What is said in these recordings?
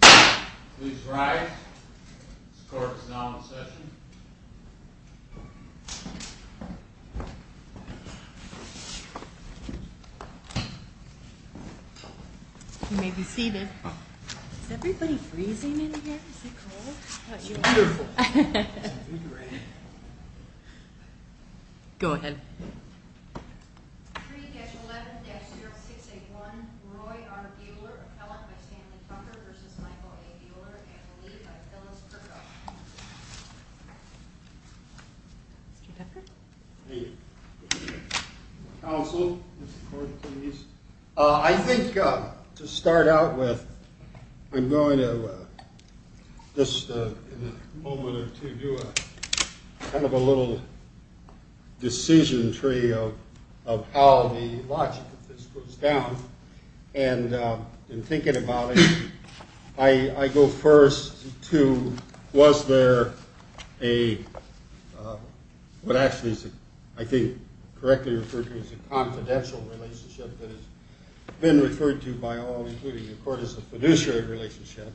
Please rise. This court is now in session. You may be seated. Is everybody freezing in here? Is it cold? It's wonderful. Go ahead. 3-11-0681 Roy R. Buehler, appellant by Stanley Tucker v. Michael A. Buehler and the lead by Phyllis Kerkhoff. Mr. Becker? Thank you. Counsel, Mr. Court Attorneys, I think to start out with, I'm going to, just in a moment or two, do kind of a little decision tree of how the logic of this goes down. And in thinking about it, I go first to was there a, what actually I think correctly referred to as a confidential relationship that has been referred to by all, including the court, as a fiduciary relationship.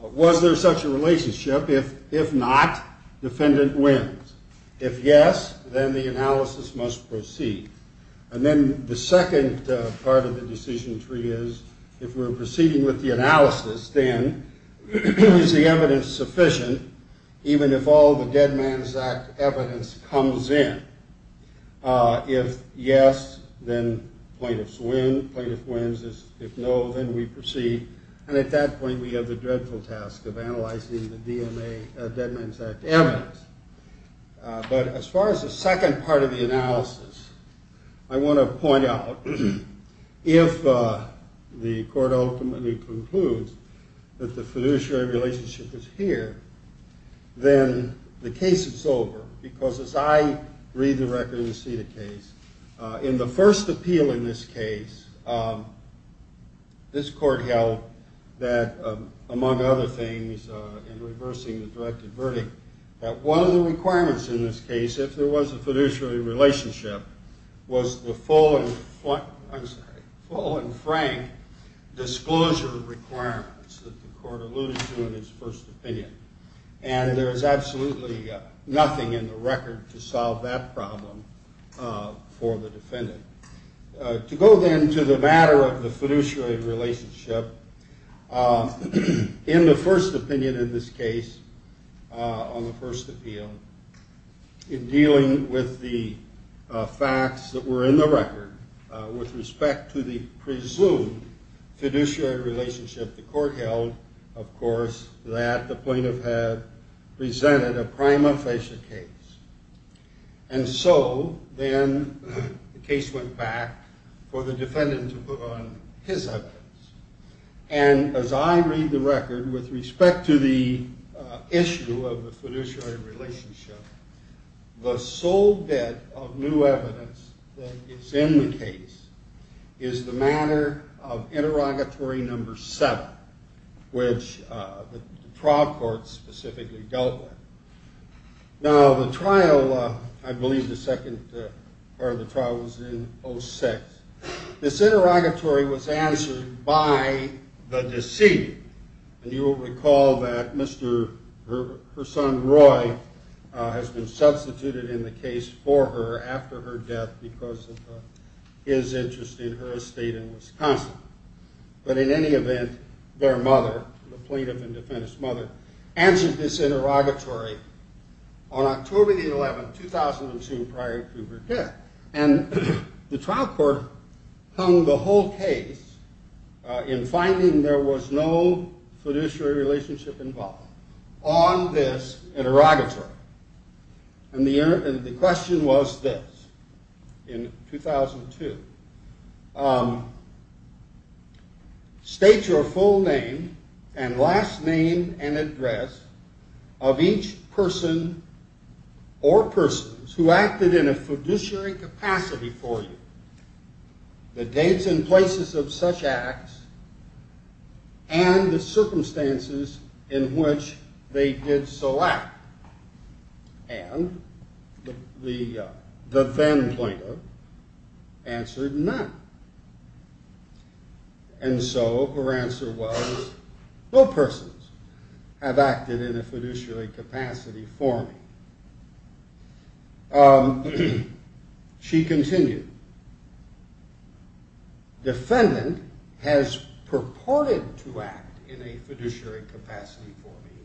Was there such a relationship? If not, defendant wins. If yes, then the analysis must proceed. And then the second part of the decision tree is, if we're proceeding with the analysis, then is the evidence sufficient, even if all the Dead Man's Act evidence comes in? If yes, then plaintiffs win. Plaintiff wins. If no, then we proceed. And at that point, we have the dreadful task of analyzing the DMA, Dead Man's Act evidence. But as far as the second part of the analysis, I want to point out, if the court ultimately concludes that the fiduciary relationship is here, then the case is over. Because as I read the record and see the case, in the first appeal in this case, this court held that, among other things, in reversing the directed verdict, that one of the requirements in this case, if there was a fiduciary relationship, was the full and frank disclosure requirements that the court alluded to in its first opinion. And there is absolutely nothing in the record to solve that problem for the defendant. To go then to the matter of the fiduciary relationship, in the first opinion in this case, on the first appeal, in dealing with the facts that were in the record, with respect to the presumed fiduciary relationship, the court held, of course, that the plaintiff had presented a prima facie case. And so then the case went back for the defendant to put on his evidence. And as I read the record, with respect to the issue of the fiduciary relationship, the sole bit of new evidence that is in the case is the matter of interrogatory number seven, which the trial court specifically dealt with. Now, the trial, I believe the second part of the trial was in 06. This interrogatory was answered by the deceived. And you will recall that her son Roy has been substituted in the case for her after her death because of his interest in her estate in Wisconsin. But in any event, their mother, the plaintiff and defendant's mother, answered this interrogatory on October the 11th, 2002, prior to her death. And the trial court hung the whole case in finding there was no fiduciary relationship involved on this interrogatory. And the question was this, in 2002. State your full name and last name and address of each person or persons who acted in a fiduciary capacity for you, the dates and places of such acts, and the circumstances in which they did so act. And the then plaintiff answered none. And so her answer was, no persons have acted in a fiduciary capacity for me. She continued, defendant has purported to act in a fiduciary capacity for me.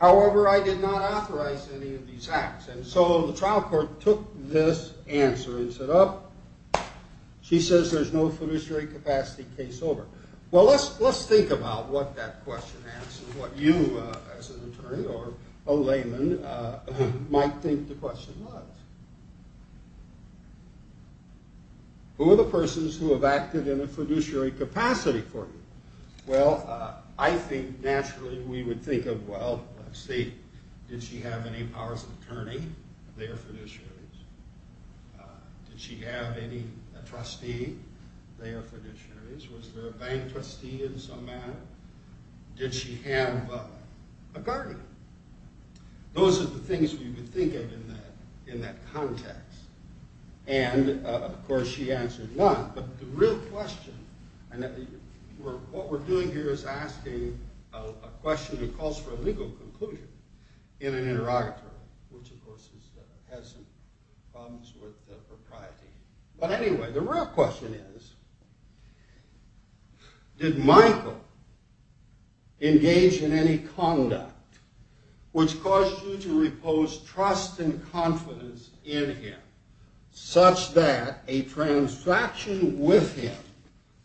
However, I did not authorize any of these acts. And so the trial court took this answer and said, oh, she says there's no fiduciary capacity case over. Well, let's think about what that question asks and what you, as an attorney or a layman, might think the question was. Who are the persons who have acted in a fiduciary capacity for you? Well, I think, naturally, we would think of, well, let's see, did she have any powers of attorney? They are fiduciaries. Did she have any trustee? They are fiduciaries. Was there a bank trustee in some manner? Did she have a guardian? Those are the things we would think of in that context. And, of course, she answered none. But the real question, what we're doing here is asking a question that calls for a legal conclusion in an interrogatory, which, of course, has some problems with propriety. But anyway, the real question is, did Michael engage in any conduct which caused you to repose trust and confidence in him such that a transaction with him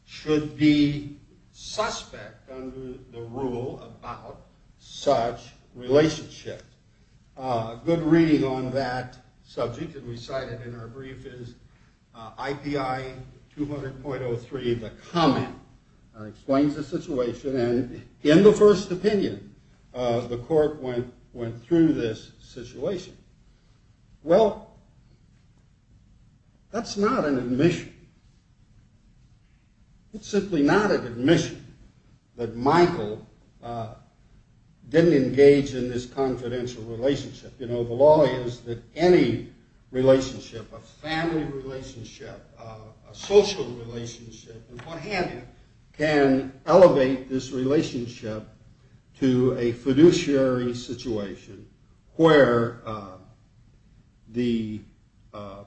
should be suspect under the rule about such relationship? A good reading on that subject that we cited in our brief is IPI 200.03, the comment. It explains the situation. And in the first opinion, the court went through this situation. Well, that's not an admission. It's simply not an admission that Michael didn't engage in this confidential relationship. You know, the law is that any relationship, a family relationship, a social relationship, and what have you, can elevate this relationship to a fiduciary situation where the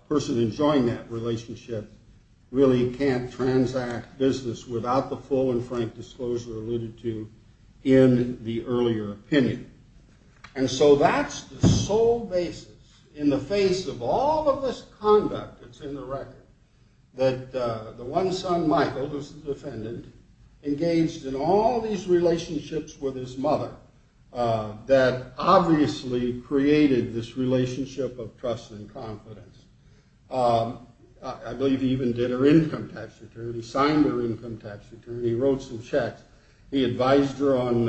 person enjoying that relationship really can't transact business without the full and frank disclosure alluded to in the earlier opinion. And so that's the sole basis in the face of all of this conduct that's in the record that the one son, Michael, who's the defendant, engaged in all these relationships with his mother that obviously created this relationship of trust and confidence. I believe he even did her income tax return. He signed her income tax return. He wrote some checks. He advised her on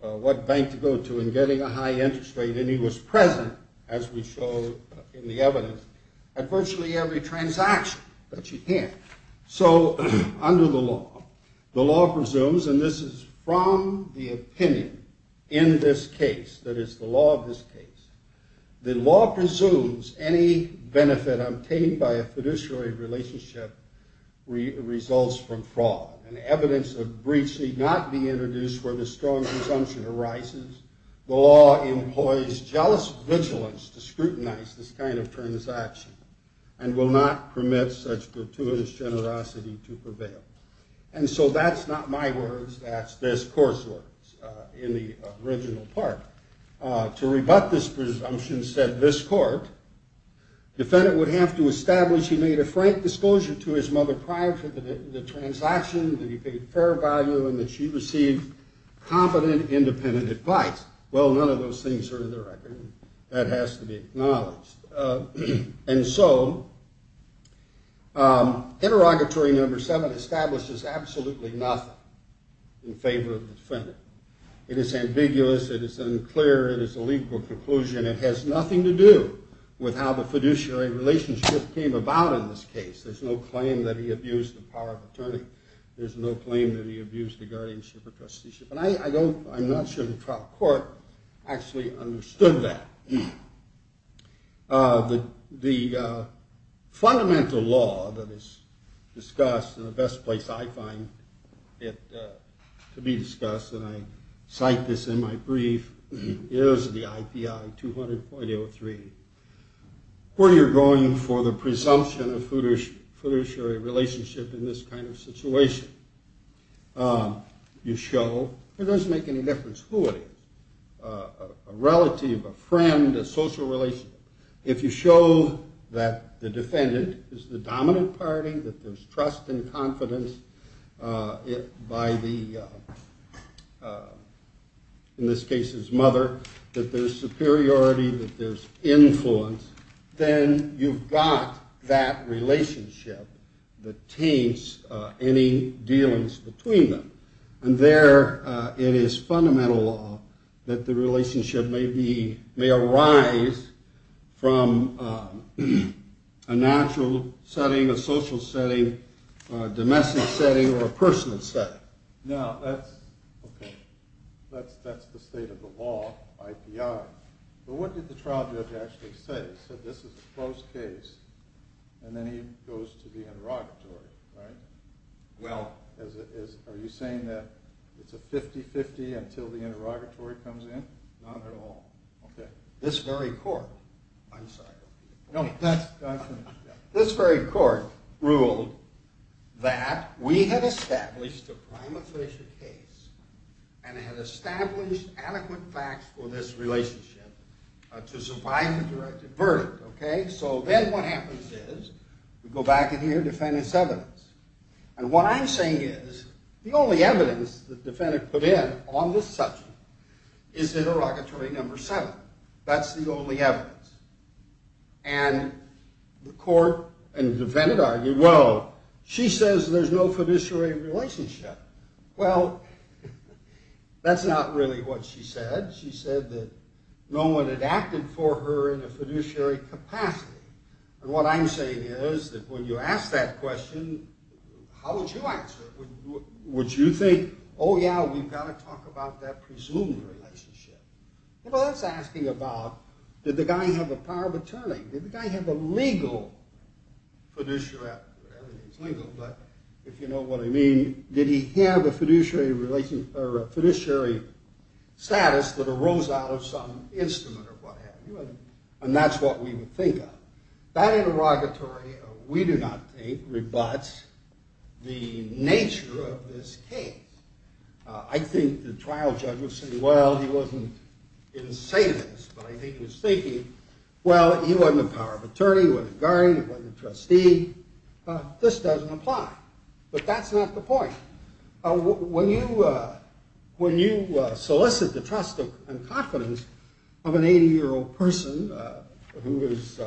what bank to go to and getting a high interest rate. And he was present, as we show in the evidence, at virtually every transaction that she can. So under the law, the law presumes, and this is from the opinion in this case, that is the law of this case, the law presumes any benefit obtained by a fiduciary relationship results from fraud. And evidence of breach need not be introduced where the strong presumption arises. The law employs jealous vigilance to scrutinize this kind of transaction and will not permit such gratuitous generosity to prevail. And so that's not my words. That's this court's words in the original part. To rebut this presumption said this court, defendant would have to establish he made a frank disclosure to his mother prior to the transaction, that he paid fair value, and that she received confident independent advice. Well, none of those things are in the record. That has to be acknowledged. And so interrogatory number seven establishes absolutely nothing in favor of the defendant. It is ambiguous. It is unclear. It is a legal conclusion. It has nothing to do with how the fiduciary relationship came about in this case. There's no claim that he abused the power of attorney. There's no claim that he abused the guardianship or trusteeship. And I'm not sure the trial court actually understood that. The fundamental law that is discussed and the best place I find it to be discussed, and I cite this in my brief, is the IPI 200.03. Where you're going for the presumption of fiduciary relationship in this kind of situation, you show it doesn't make any difference who it is, a relative, a friend, a social relationship. If you show that the defendant is the dominant party, that there's trust and confidence by the, in this case, his mother, that there's superiority, that there's influence, then you've got that relationship that taints any dealings between them. And there it is fundamental law that the relationship may arise from a natural setting, a social setting, a domestic setting, or a personal setting. Now, that's, okay, that's the state of the law, IPI. But what did the trial judge actually say? He said, this is a closed case. And then he goes to the interrogatory, right? Well, are you saying that it's a 50-50 until the interrogatory comes in? Not at all. This very court, I'm sorry, this very court ruled that we had established a prime official case and had established adequate facts for this relationship to survive a directed verdict, okay? So then what happens is, we go back in here, defendant's evidence. And what I'm saying is, the only evidence the defendant put in on this subject is interrogatory number seven. That's the only evidence. And the court and defendant argue, well, she says there's no fiduciary relationship. Well, that's not really what she said. She said that no one had acted for her in a fiduciary capacity. And what I'm saying is, that when you ask that question, how would you answer it? Would you think, oh yeah, we've got to talk about that presumed relationship. Well, that's asking about, did the guy have the power of attorney? Did the guy have a legal fiduciary, well, everything's legal, but if you know what I mean, did he have a fiduciary status that arose out of some instrument or what have you? And that's what we would think of. That interrogatory, we do not think, rebuts the nature of this case. I think the trial judge would say, well, he wasn't insane, but I think he was thinking, well, he wasn't a power of attorney, he wasn't a guardian, he wasn't a trustee. This doesn't apply. But that's not the point. When you solicit the trust and confidence of an 80-year-old person who is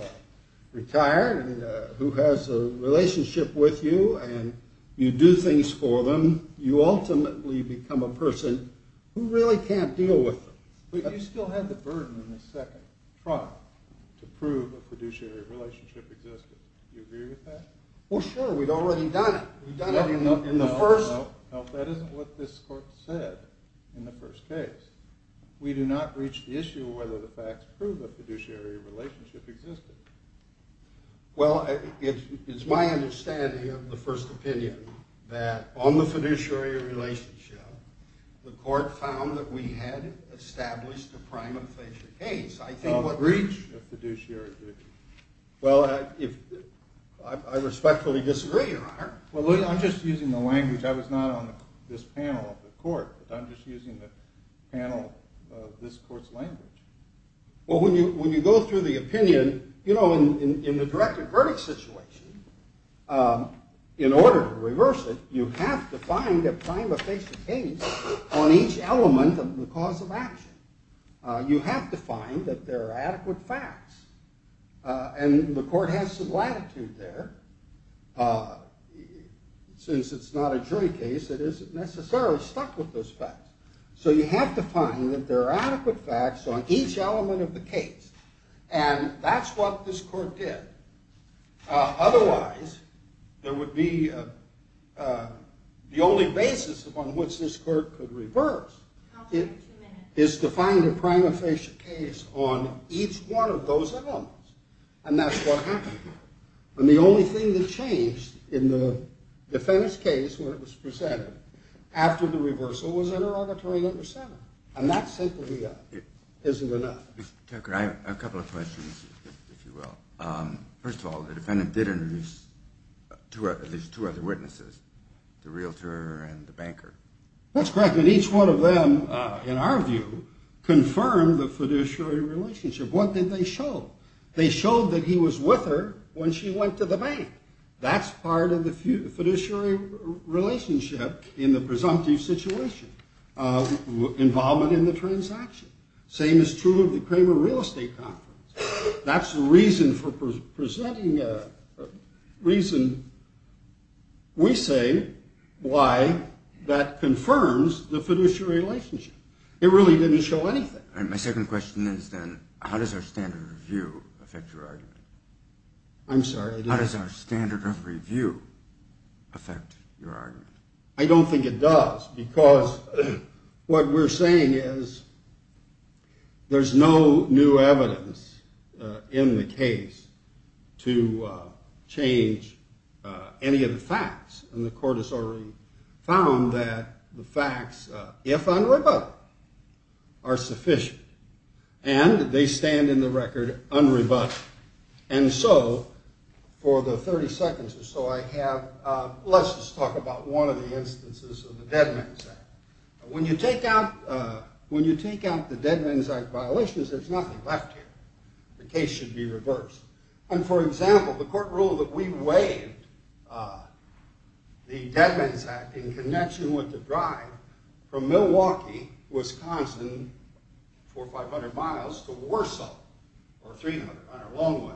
retired and who has a relationship with you and you do things for them, you ultimately become a person who really can't deal with them. But you still had the burden in the second trial to prove a fiduciary relationship existed. Do you agree with that? Well, sure, we'd already done it. We've done it in the first... No, that isn't what this court said in the first case. We do not reach the issue of whether the facts prove a fiduciary relationship existed. Well, it's my understanding of the first opinion that on the fiduciary relationship, the court found that we had established a prima facie case. I think what... No breach of fiduciary duty. Well, I respectfully disagree, Your Honor. Well, I'm just using the language. I was not on this panel of the court, but I'm just using the panel of this court's language. Well, when you go through the opinion, you know, in the directed verdict situation, in order to reverse it, you have to find a prima facie case on each element of the cause of action. You have to find that there are adequate facts, and the court has some latitude there. Since it's not a jury case, it isn't necessarily stuck with those facts. So you have to find that there are adequate facts on each element of the case, and that's what this court did. Otherwise, there would be... The only basis upon which this court could reverse is to find a prima facie case on each one of those elements, and that's what happened here. And the only thing that changed in the defendant's case, when it was presented, after the reversal, was interrogatory letter 7. And that simply isn't enough. Mr. Tucker, I have a couple of questions, if you will. First of all, the defendant did introduce at least two other witnesses, the realtor and the banker. That's correct. And each one of them, in our view, confirmed the fiduciary relationship. What did they show? They showed that he was with her when she went to the bank. That's part of the fiduciary relationship in the presumptive situation, involvement in the transaction. Same is true of the Kramer Real Estate Conference. That's the reason for presenting... reason, we say, why that confirms the fiduciary relationship. It really didn't show anything. My second question is then, how does our standard of review affect your argument? I'm sorry, I didn't... How does our standard of review affect your argument? I don't think it does, because what we're saying is there's no new evidence in the case to change any of the facts. And the court has already found that the facts, if unrebutted, are sufficient. And they stand in the record unrebutted. And so, for the 30 seconds or so, I have... When you take out... When you take out the Dead Men's Act violations, there's nothing left here. The case should be reversed. And, for example, the court ruled that we waived the Dead Men's Act in connection with the drive from Milwaukee, Wisconsin, for 500 miles, to Warsaw, for 300 on a long way.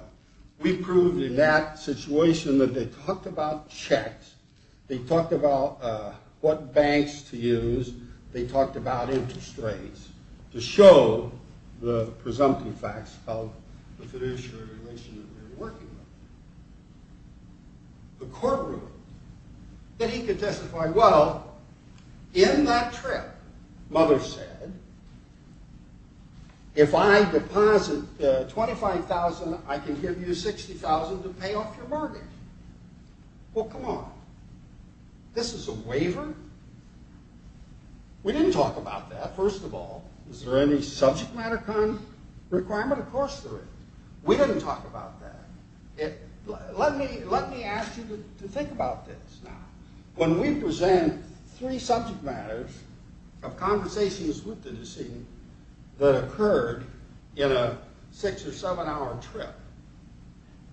We proved in that situation that they talked about checks, they talked about what banks to use, they talked about interest rates, to show the presumptive facts of the fiduciary relation that we were working with. The court ruled that he could testify, well, in that trip, Mother said, if I deposit 25,000, I can give you 60,000 to pay off your mortgage. Well, come on. This is a waiver? We didn't talk about that, first of all. Is there any subject matter kind of requirement? Of course there is. We didn't talk about that. Let me ask you to think about this now. When we present three subject matters of conversations with the decedent that occurred in a six- or seven-hour trip,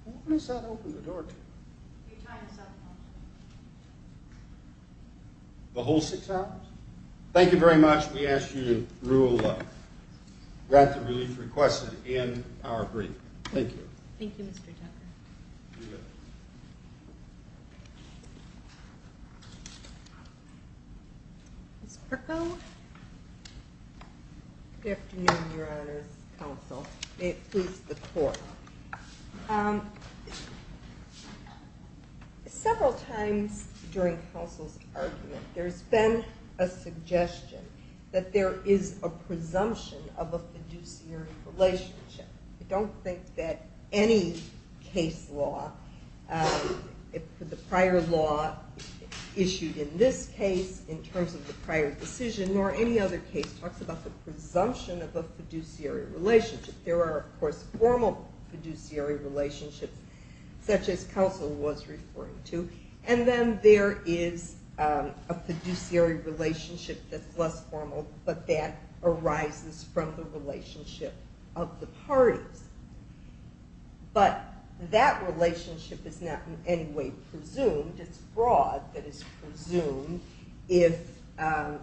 when does that open the door to? Your time is up, Counselor. The whole six hours? Thank you very much. We ask you to rule that the relief requested in our brief. Thank you. Thank you, Mr. Tucker. Good afternoon, Your Honors Counsel. May it please the Court, several times during Counsel's argument, there's been a suggestion that there is a presumption of a fiduciary relationship. I don't think that any case law, the prior law issued in this case, in terms of the prior decision, nor any other case talks about the presumption of a fiduciary relationship. There are, of course, formal fiduciary relationships, such as Counsel was referring to, and then there is a fiduciary relationship that's less formal, but that arises from the relationship of the parties. But that relationship is not in any way presumed. It's broad that it's presumed if a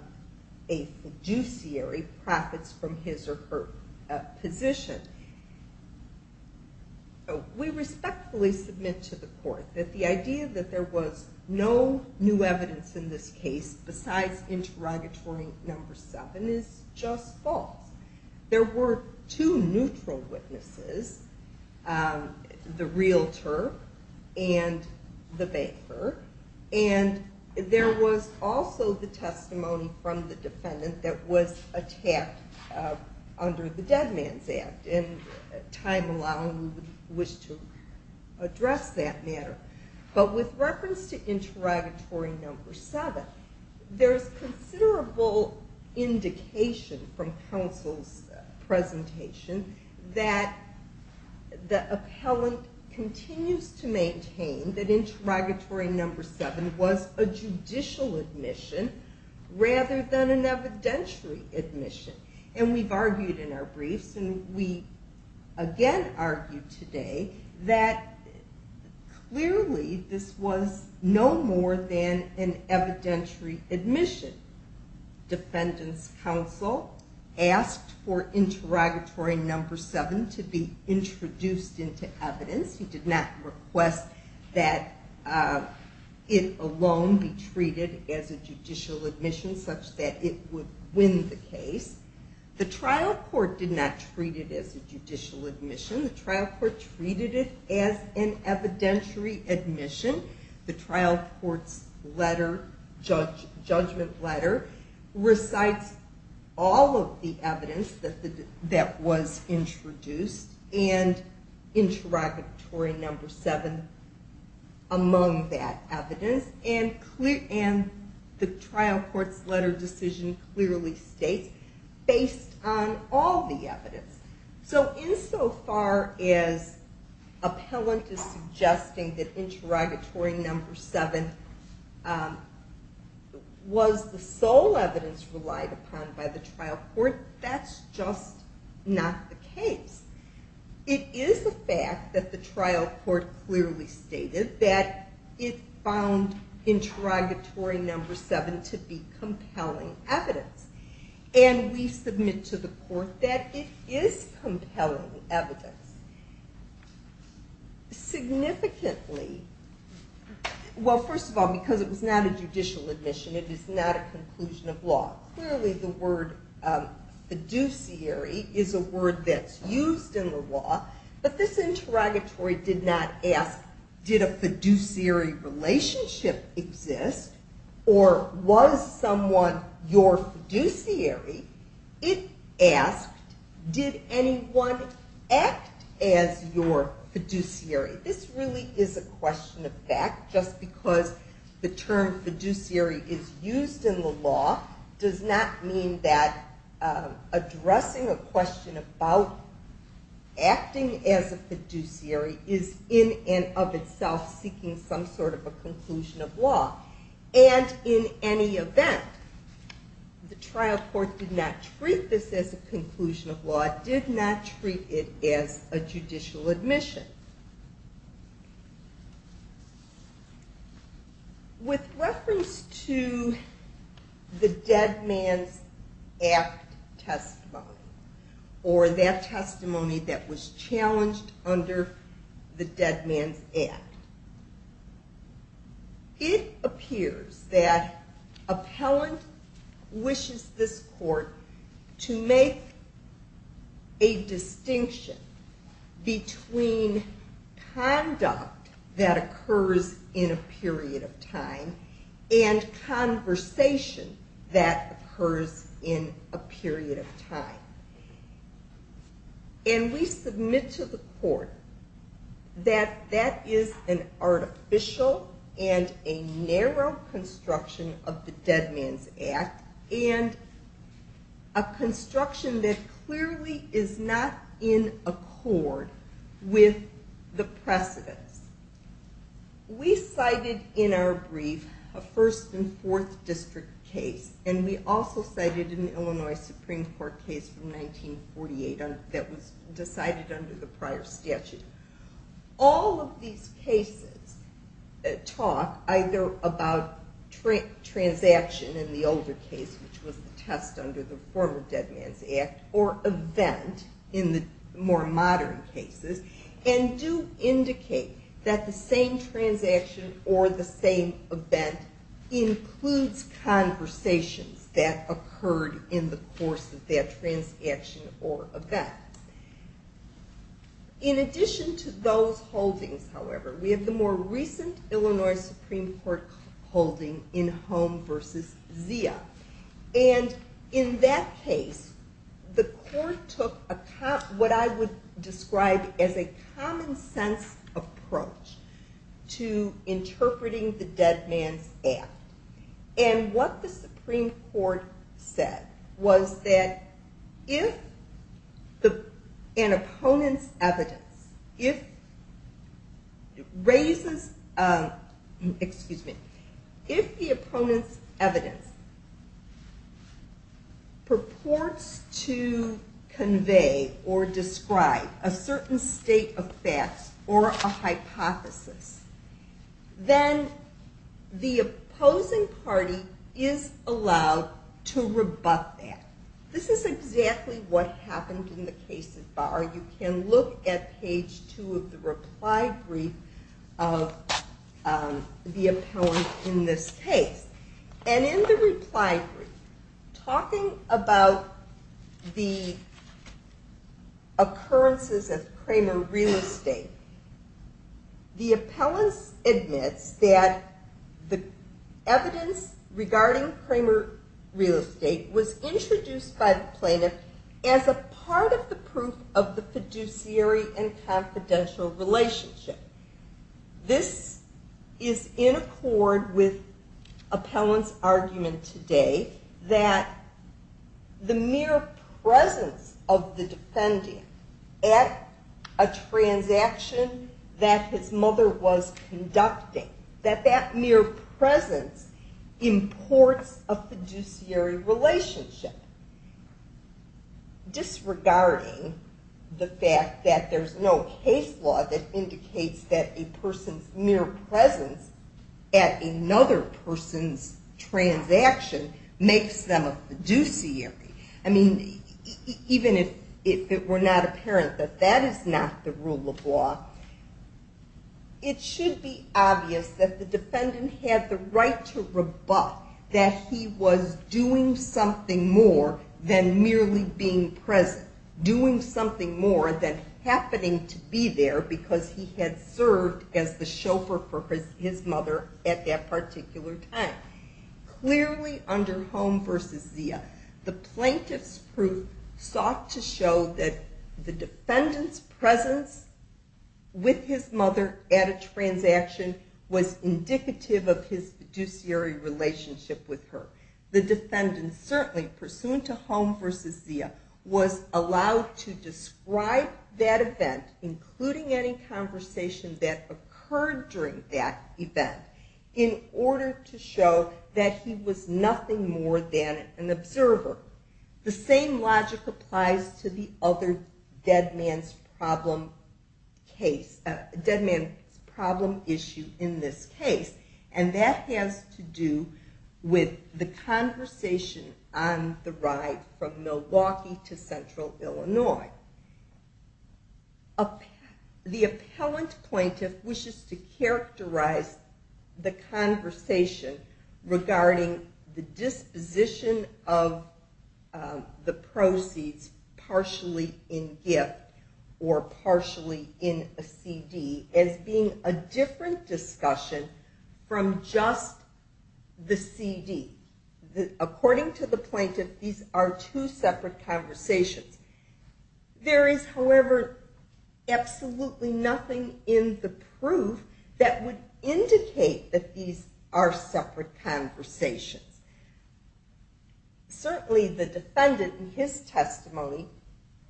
fiduciary profits from his or her position. We respectfully submit to the Court that the idea that there was no new evidence in this case besides interrogatory number seven is just false. There were two neutral witnesses, the realtor and the banker, and there was also the testimony from the defendant that was attacked under the Dead Man's Act, and time allowing we would wish to address that matter. But with reference to interrogatory number seven, there's considerable indication from Counsel's presentation that the appellant continues to maintain that interrogatory number seven was a judicial admission rather than an evidentiary admission. And we've argued in our briefs, and we again argue today that clearly this was no more than an evidentiary admission. Defendant's Counsel asked for interrogatory number seven to be introduced into evidence. He did not request that it alone be treated as a judicial admission such that it would win the case. The trial court did not treat it as a judicial admission. The trial court treated it as an evidentiary admission. The trial court's judgment letter recites all of the evidence that was introduced and interrogatory number seven among that evidence, and the trial court's letter of decision clearly states based on all the evidence. So insofar as appellant is suggesting that interrogatory number seven was the sole evidence relied upon by the trial court, that's just not the case. It is a fact that the trial court clearly stated that it found interrogatory number seven to be compelling evidence, and we submit to the court that it is compelling evidence. Significantly... Well, first of all, because it was not a judicial admission, it is not a conclusion of law. Clearly the word fiduciary is a word that's used in the law, but this interrogatory did not ask, did a fiduciary relationship exist, or was someone your fiduciary? It asked, did anyone act as your fiduciary? This really is a question of fact, just because the term fiduciary is used in the law does not mean that addressing a question about acting as a fiduciary is in and of itself seeking some sort of a conclusion of law. And in any event, the trial court did not treat this as a conclusion of law. It did not treat it as a judicial admission. With reference to the Dead Man's Act testimony, or that testimony that was challenged under the Dead Man's Act, it appears that appellant wishes this court to make a distinction between conduct that occurs in a period of time and conversation that occurs in a period of time. And we submit to the court that that is an artificial and a narrow construction of the Dead Man's Act, and a construction that clearly is not in accord with the precedents. We cited in our brief a 1st and 4th District case, and we also cited an Illinois Supreme Court case from 1948 that was decided under the prior statute. All of these cases talk either about transaction in the older case, which was the test under the former Dead Man's Act, or event in the more modern cases, and do indicate that the same transaction or the same event includes conversations that occurred in the course of that transaction or event. In addition to those holdings, however, we have the more recent Illinois Supreme Court holding in Home v. Zia. And in that case, the court took what I would describe as a common-sense approach to interpreting the Dead Man's Act. And what the Supreme Court said was that if an opponent's evidence raises... Excuse me. If the opponent's evidence purports to convey or describe a certain state of facts or a hypothesis, then the opposing party is allowed to rebut that. This is exactly what happened in the cases bar. You can look at page 2 of the reply brief of the appellant in this case. And in the reply brief, talking about the occurrences of Cramer Real Estate, the appellant admits that the evidence regarding Cramer Real Estate was introduced by the plaintiff as a part of the proof of the fiduciary and confidential relationship. This is in accord with appellant's argument today that the mere presence of the defendant at a transaction that his mother was conducting, that that mere presence imports a fiduciary relationship, disregarding the fact that there's no case law that indicates that a person's mere presence at another person's transaction makes them a fiduciary. I mean, even if it were not apparent that that is not the rule of law, it should be obvious that the defendant had the right to rebut that he was doing something more than merely being present, doing something more than happening to be there because he had served as the chauffeur for his mother at that particular time. Clearly, under Holm v. Zia, the plaintiff's proof sought to show that the defendant's presence with his mother at a transaction was indicative of his fiduciary relationship with her. The defendant certainly, pursuant to Holm v. Zia, was allowed to describe that event, including any conversation that occurred during that event, in order to show that he was nothing more than an observer. The same logic applies to the other dead man's problem issue in this case, and that has to do with the conversation on the ride from Milwaukee to central Illinois. The appellant plaintiff wishes to characterize the conversation regarding the disposition of the proceeds partially in gift or partially in a CD as being a different discussion from just the CD. According to the plaintiff, these are two separate conversations. There is, however, absolutely nothing in the proof that would indicate that these are separate conversations. Certainly, the defendant in his testimony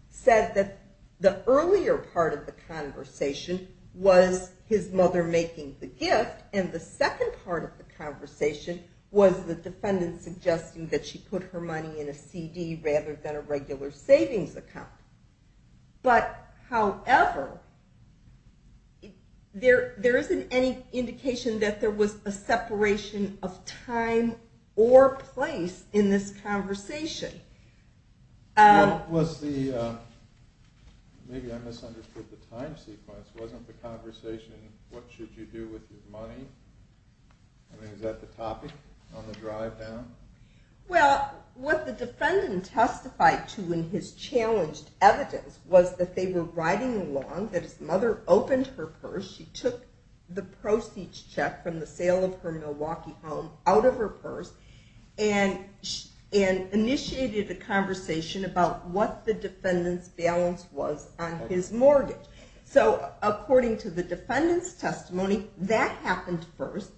said that the earlier part of the conversation was his mother making the gift, and the second part of the conversation was the defendant suggesting that she put her money in a CD rather than a regular savings account. However, there isn't any indication that there was a separation of time or place in this conversation. Maybe I misunderstood the time sequence. Wasn't the conversation, what should you do with your money? I mean, is that the topic on the drive down? Well, what the defendant testified to in his challenged evidence was that they were riding along, that his mother opened her purse, she took the proceeds check from the sale of her Milwaukee home out of her purse, and initiated a conversation about what the defendant's balance was on his mortgage. So according to the defendant's testimony, that happened first.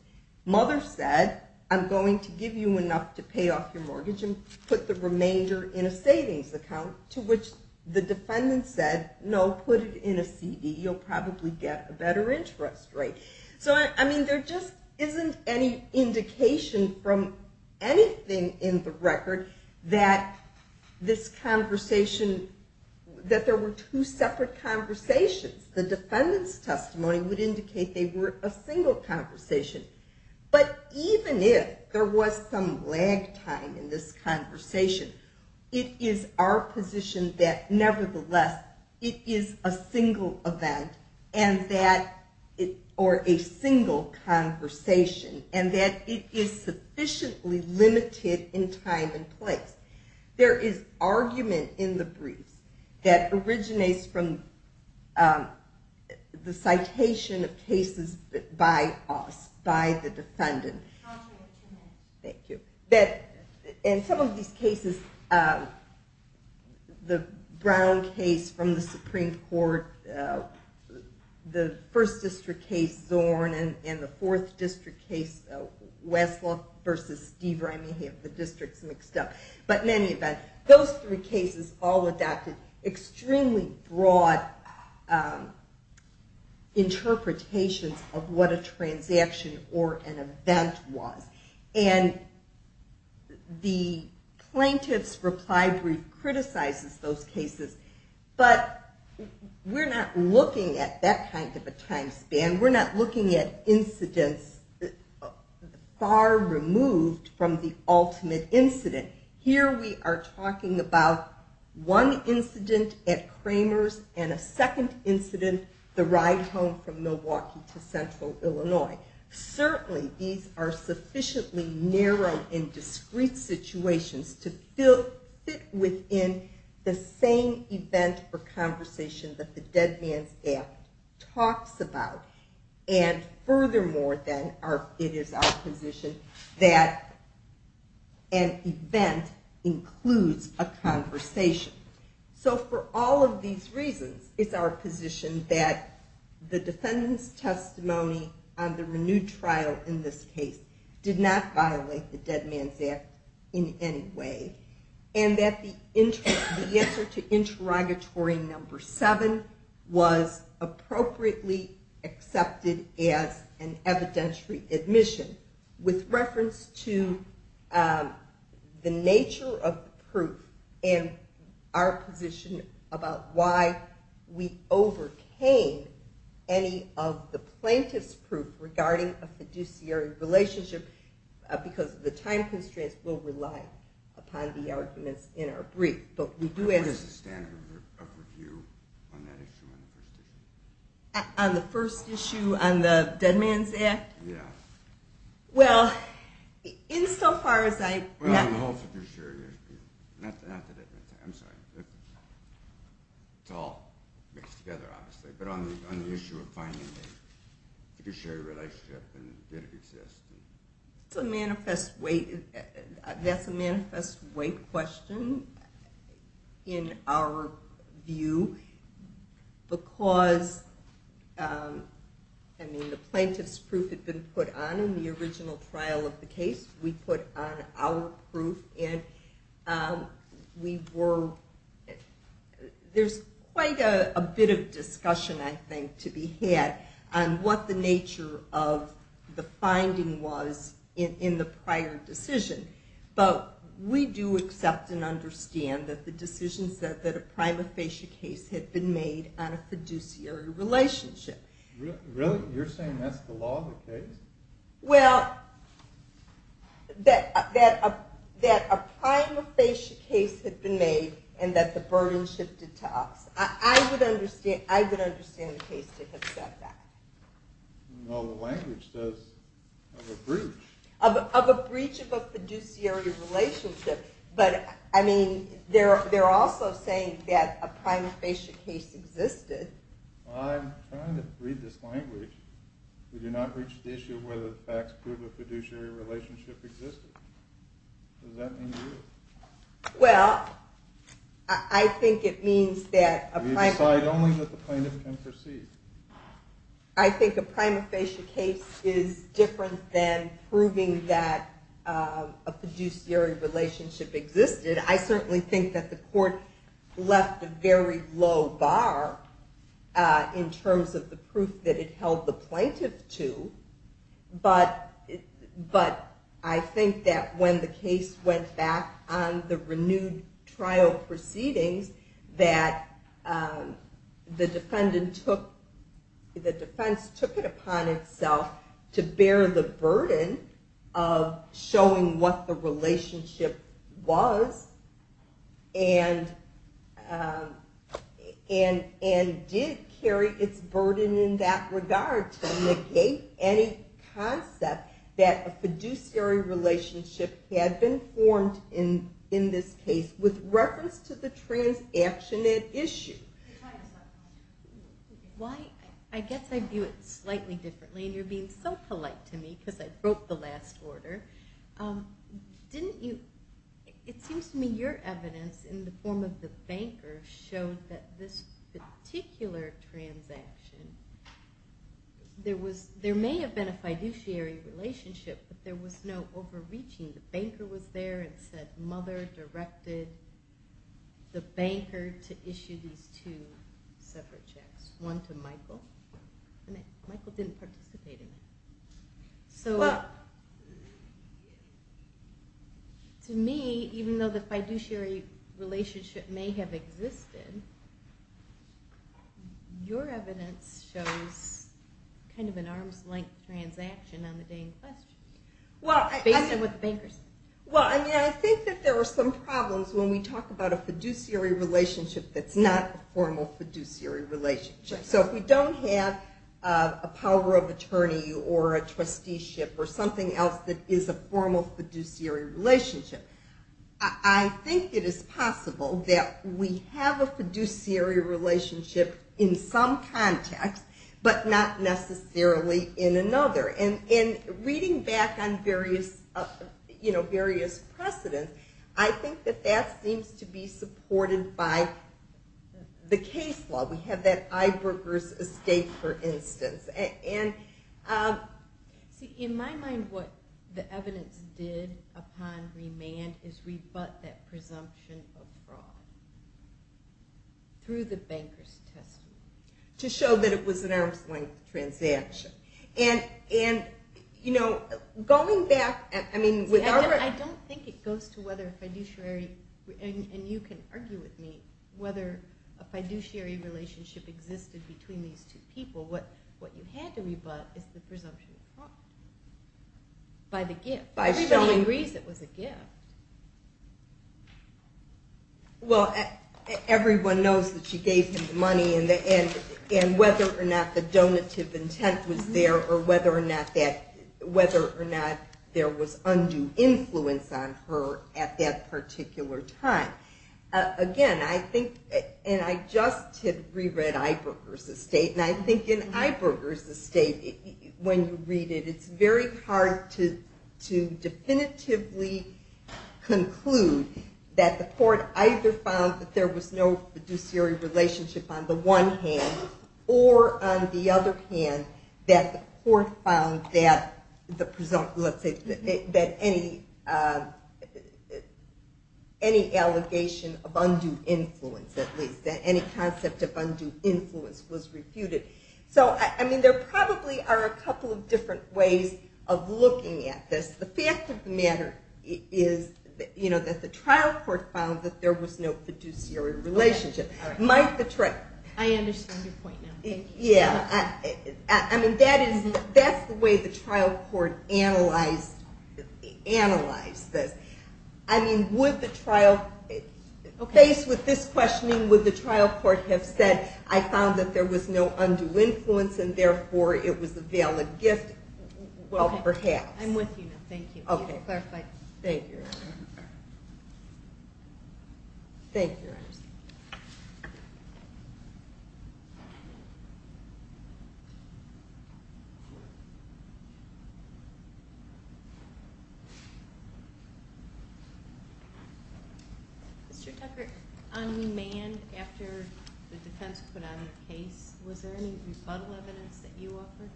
Mother said, I'm going to give you enough to pay off your mortgage and put the remainder in a savings account, to which the defendant said, no, put it in a CD. You'll probably get a better interest rate. So I mean, there just isn't any indication from anything in the record that this conversation, that there were two separate conversations. The defendant's testimony would indicate they were a single conversation. But even if there was some lag time in this conversation, it is our position that nevertheless it is a single event or a single conversation, and that it is sufficiently limited in time and place. There is argument in the briefs that originates from the citation of cases by the defendant. Thank you. And some of these cases, the Brown case from the Supreme Court, the First District case, Zorn, and the Fourth District case, Westlake versus Steve Rimey, the districts mixed up. But in any event, those three cases all adapted to extremely broad interpretations of what a transaction or an event was. And the plaintiff's reply brief criticizes those cases, but we're not looking at that kind of a time span. We're not looking at incidents far removed from the ultimate incident. Here we are talking about one incident at Kramer's and a second incident, the ride home from Milwaukee to central Illinois. Certainly these are sufficiently narrow and discreet situations to fit within the same event or conversation that the dead man's gap talks about. And furthermore, then, it is our position that an event includes a conversation. So for all of these reasons, it's our position that the defendant's testimony on the renewed trial in this case did not violate the dead man's gap in any way, and that the answer to interrogatory number seven was appropriately accepted as an evidentiary admission with reference to the nature of the proof and our position about why we overcame any of the plaintiff's proof regarding a fiduciary relationship because the time constraints will rely upon the arguments in our brief. But we do ask... What is the standard of review on that issue, on the first issue? On the first issue, on the dead man's act? Yeah. Well, insofar as I... Well, on the whole fiduciary relationship. Not the dead man's act. I'm sorry. It's all mixed together, obviously. But on the issue of finding a fiduciary relationship, it's a manifest way... That's a manifest way question in our view because the plaintiff's proof had been put on in the original trial of the case. We put on our proof, and we were... There's quite a bit of discussion, I think, to be had on what the nature of the finding was in the prior decision. But we do accept and understand that the decision said that a prima facie case had been made on a fiduciary relationship. Really? You're saying that's the law of the case? Well, that a prima facie case had been made and that the burden shifted to us. I would understand the case to have said that. No, the language says of a breach. Of a breach of a fiduciary relationship. But, I mean, they're also saying that a prima facie case existed. I'm trying to read this language. We do not reach the issue whether the facts prove a fiduciary relationship existed. Does that mean you? Well, I think it means that... We decide only that the plaintiff can proceed. I think a prima facie case is different than proving that a fiduciary relationship existed. I certainly think that the court left a very low bar in terms of the proof that it held the plaintiff to. But I think that when the case went back on the renewed trial proceedings that the defense took it upon itself to bear the burden of showing what the relationship was and did carry its burden in that regard to negate any concept that a fiduciary relationship had been formed in this case with reference to the transaction at issue. Why, I guess I view it slightly differently and you're being so polite to me because I broke the last order. Didn't you, it seems to me your evidence in the form of the banker showed that this particular transaction there may have been a fiduciary relationship but there was no overreaching. The banker was there and said mother directed the banker to issue these two separate checks. One to Michael and Michael didn't participate in it. So to me, even though the fiduciary relationship may have existed your evidence shows kind of an arm's length transaction on the day in question, based on what the banker said. Well, I think that there were some problems when we talk about a fiduciary relationship that's not a formal fiduciary relationship. So if we don't have a power of attorney or a trusteeship or something else that is a formal fiduciary relationship I think it is possible that we have a fiduciary relationship in some context but not necessarily in another. And reading back on various precedents I think that that seems to be supported by the case law. We have that Eiberger's escape for instance. See, in my mind what the evidence did upon remand is rebut that presumption of fraud through the banker's testimony. To show that it was an arm's length transaction. I don't think it goes to whether a fiduciary and you can argue with me whether a fiduciary relationship existed between these two people. What you had to rebut is the presumption of fraud by the gift. Everybody agrees it was a gift. Well, everyone knows that she gave him the money and whether or not the donative intent was there or whether or not there was undue influence on her at that particular time. Again, I think and I just had reread Eiberger's estate and I think in Eiberger's estate when you read it it's very hard to definitively conclude that the court either found that there was no fiduciary relationship on the one hand or on the other hand that the court found that any allegation of undue influence, that any concept of undue influence was refuted. So there probably are a couple of different ways of looking at this. The fact of the matter is that the trial court found that there was no fiduciary relationship. I understand your point now. Yeah, I mean that's the way the trial court analyzed this. I mean would the trial, based with this questioning, would the trial court have said, I found that there was no undue influence and therefore it was a valid gift? Well, perhaps. I'm with you now, thank you. Thank you. Thank you, Your Honor. Mr. Tucker, unmanned after the defense put on their case, was there any rebuttal evidence that you offered?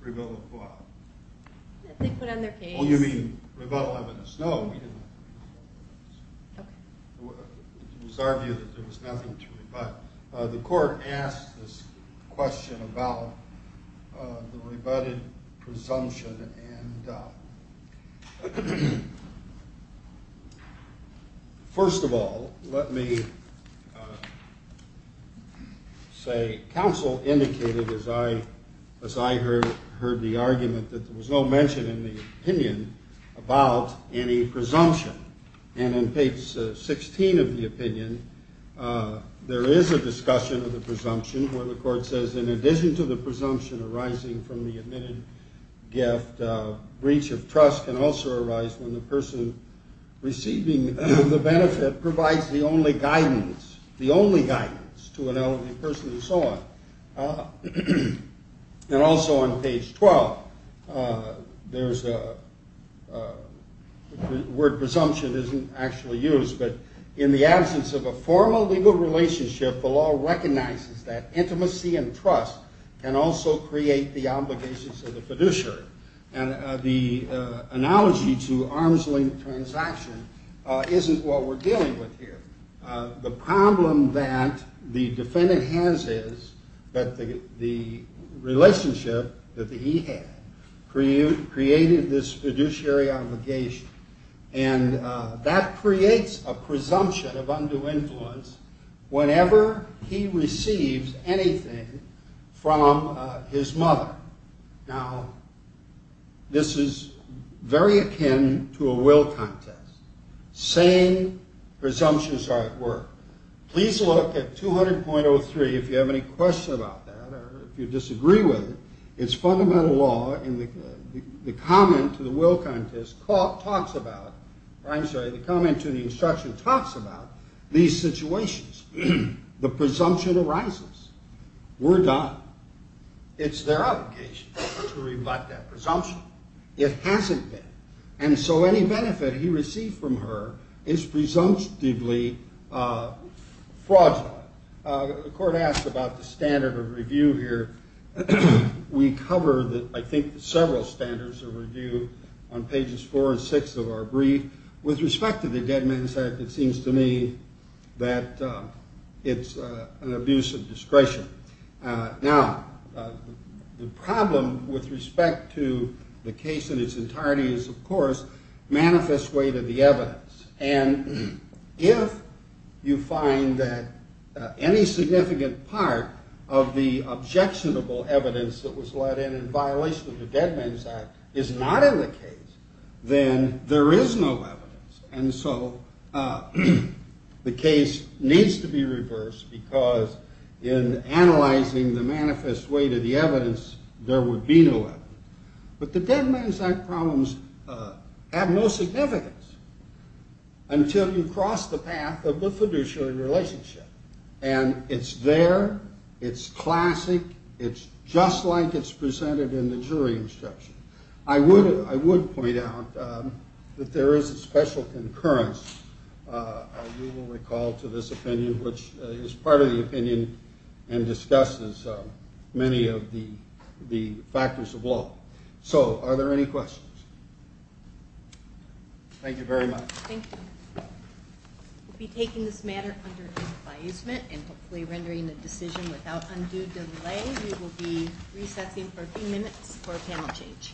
Rebuttal of what? That they put on their case. Oh, you mean rebuttal evidence. No, we didn't. It was argued that there was nothing to rebut. The court asked this question about the rebutted presumption. First of all, let me say counsel indicated, as I heard the argument, that there was no mention in the opinion about any presumption. And in page 16 of the opinion, there is a discussion of the presumption where the court says, in addition to the presumption arising from the admitted gift, breach of trust can also arise when the person receiving the benefit provides the only guidance, the only guidance, to an elderly person and so on. And also on page 12, there's a word presumption isn't actually used, but in the absence of a formal legal relationship, the law recognizes that intimacy and trust can also create the obligations of the fiduciary. And the analogy to arm's length transaction isn't what we're dealing with here. The problem that the defendant has is that the relationship that he had created this fiduciary obligation. And that creates a presumption of undue influence whenever he receives anything from his mother. Now, this is very akin to a will contest. Same presumptions are at work. Please look at 200.03 if you have any questions about that or if you disagree with it. It's fundamental law and the comment to the will contest talks about, I'm sorry, the comment to the instruction talks about these situations. The presumption arises. We're done. It's their obligation to rebut that presumption. It hasn't been. And so any benefit he received from her is presumptively fraudulent. The court asks about the standard of review here. We cover, I think, several standards of review on pages four and six of our brief. With respect to the dead man's act, it seems to me that it's an abuse of discretion. Now, the problem with respect to the case in its entirety is, of course, manifest way to the evidence. And if you find that any significant part of the objectionable evidence that was let in in violation of the dead man's act is not in the case, then there is no evidence. And so the case needs to be reversed because in analyzing the manifest way to the evidence, there would be no evidence. But the dead man's act problems have no significance until you cross the path of the fiduciary relationship. And it's there. It's classic. It's just like it's presented in the jury instruction. I would point out that there is a special concurrence, as you will recall, to this opinion, which is part of the opinion and discusses many of the factors of law. So are there any questions? Thank you very much. Thank you. We'll be taking this matter under advisement and hopefully rendering a decision without undue delay. We will be recessing for a few minutes for a panel change.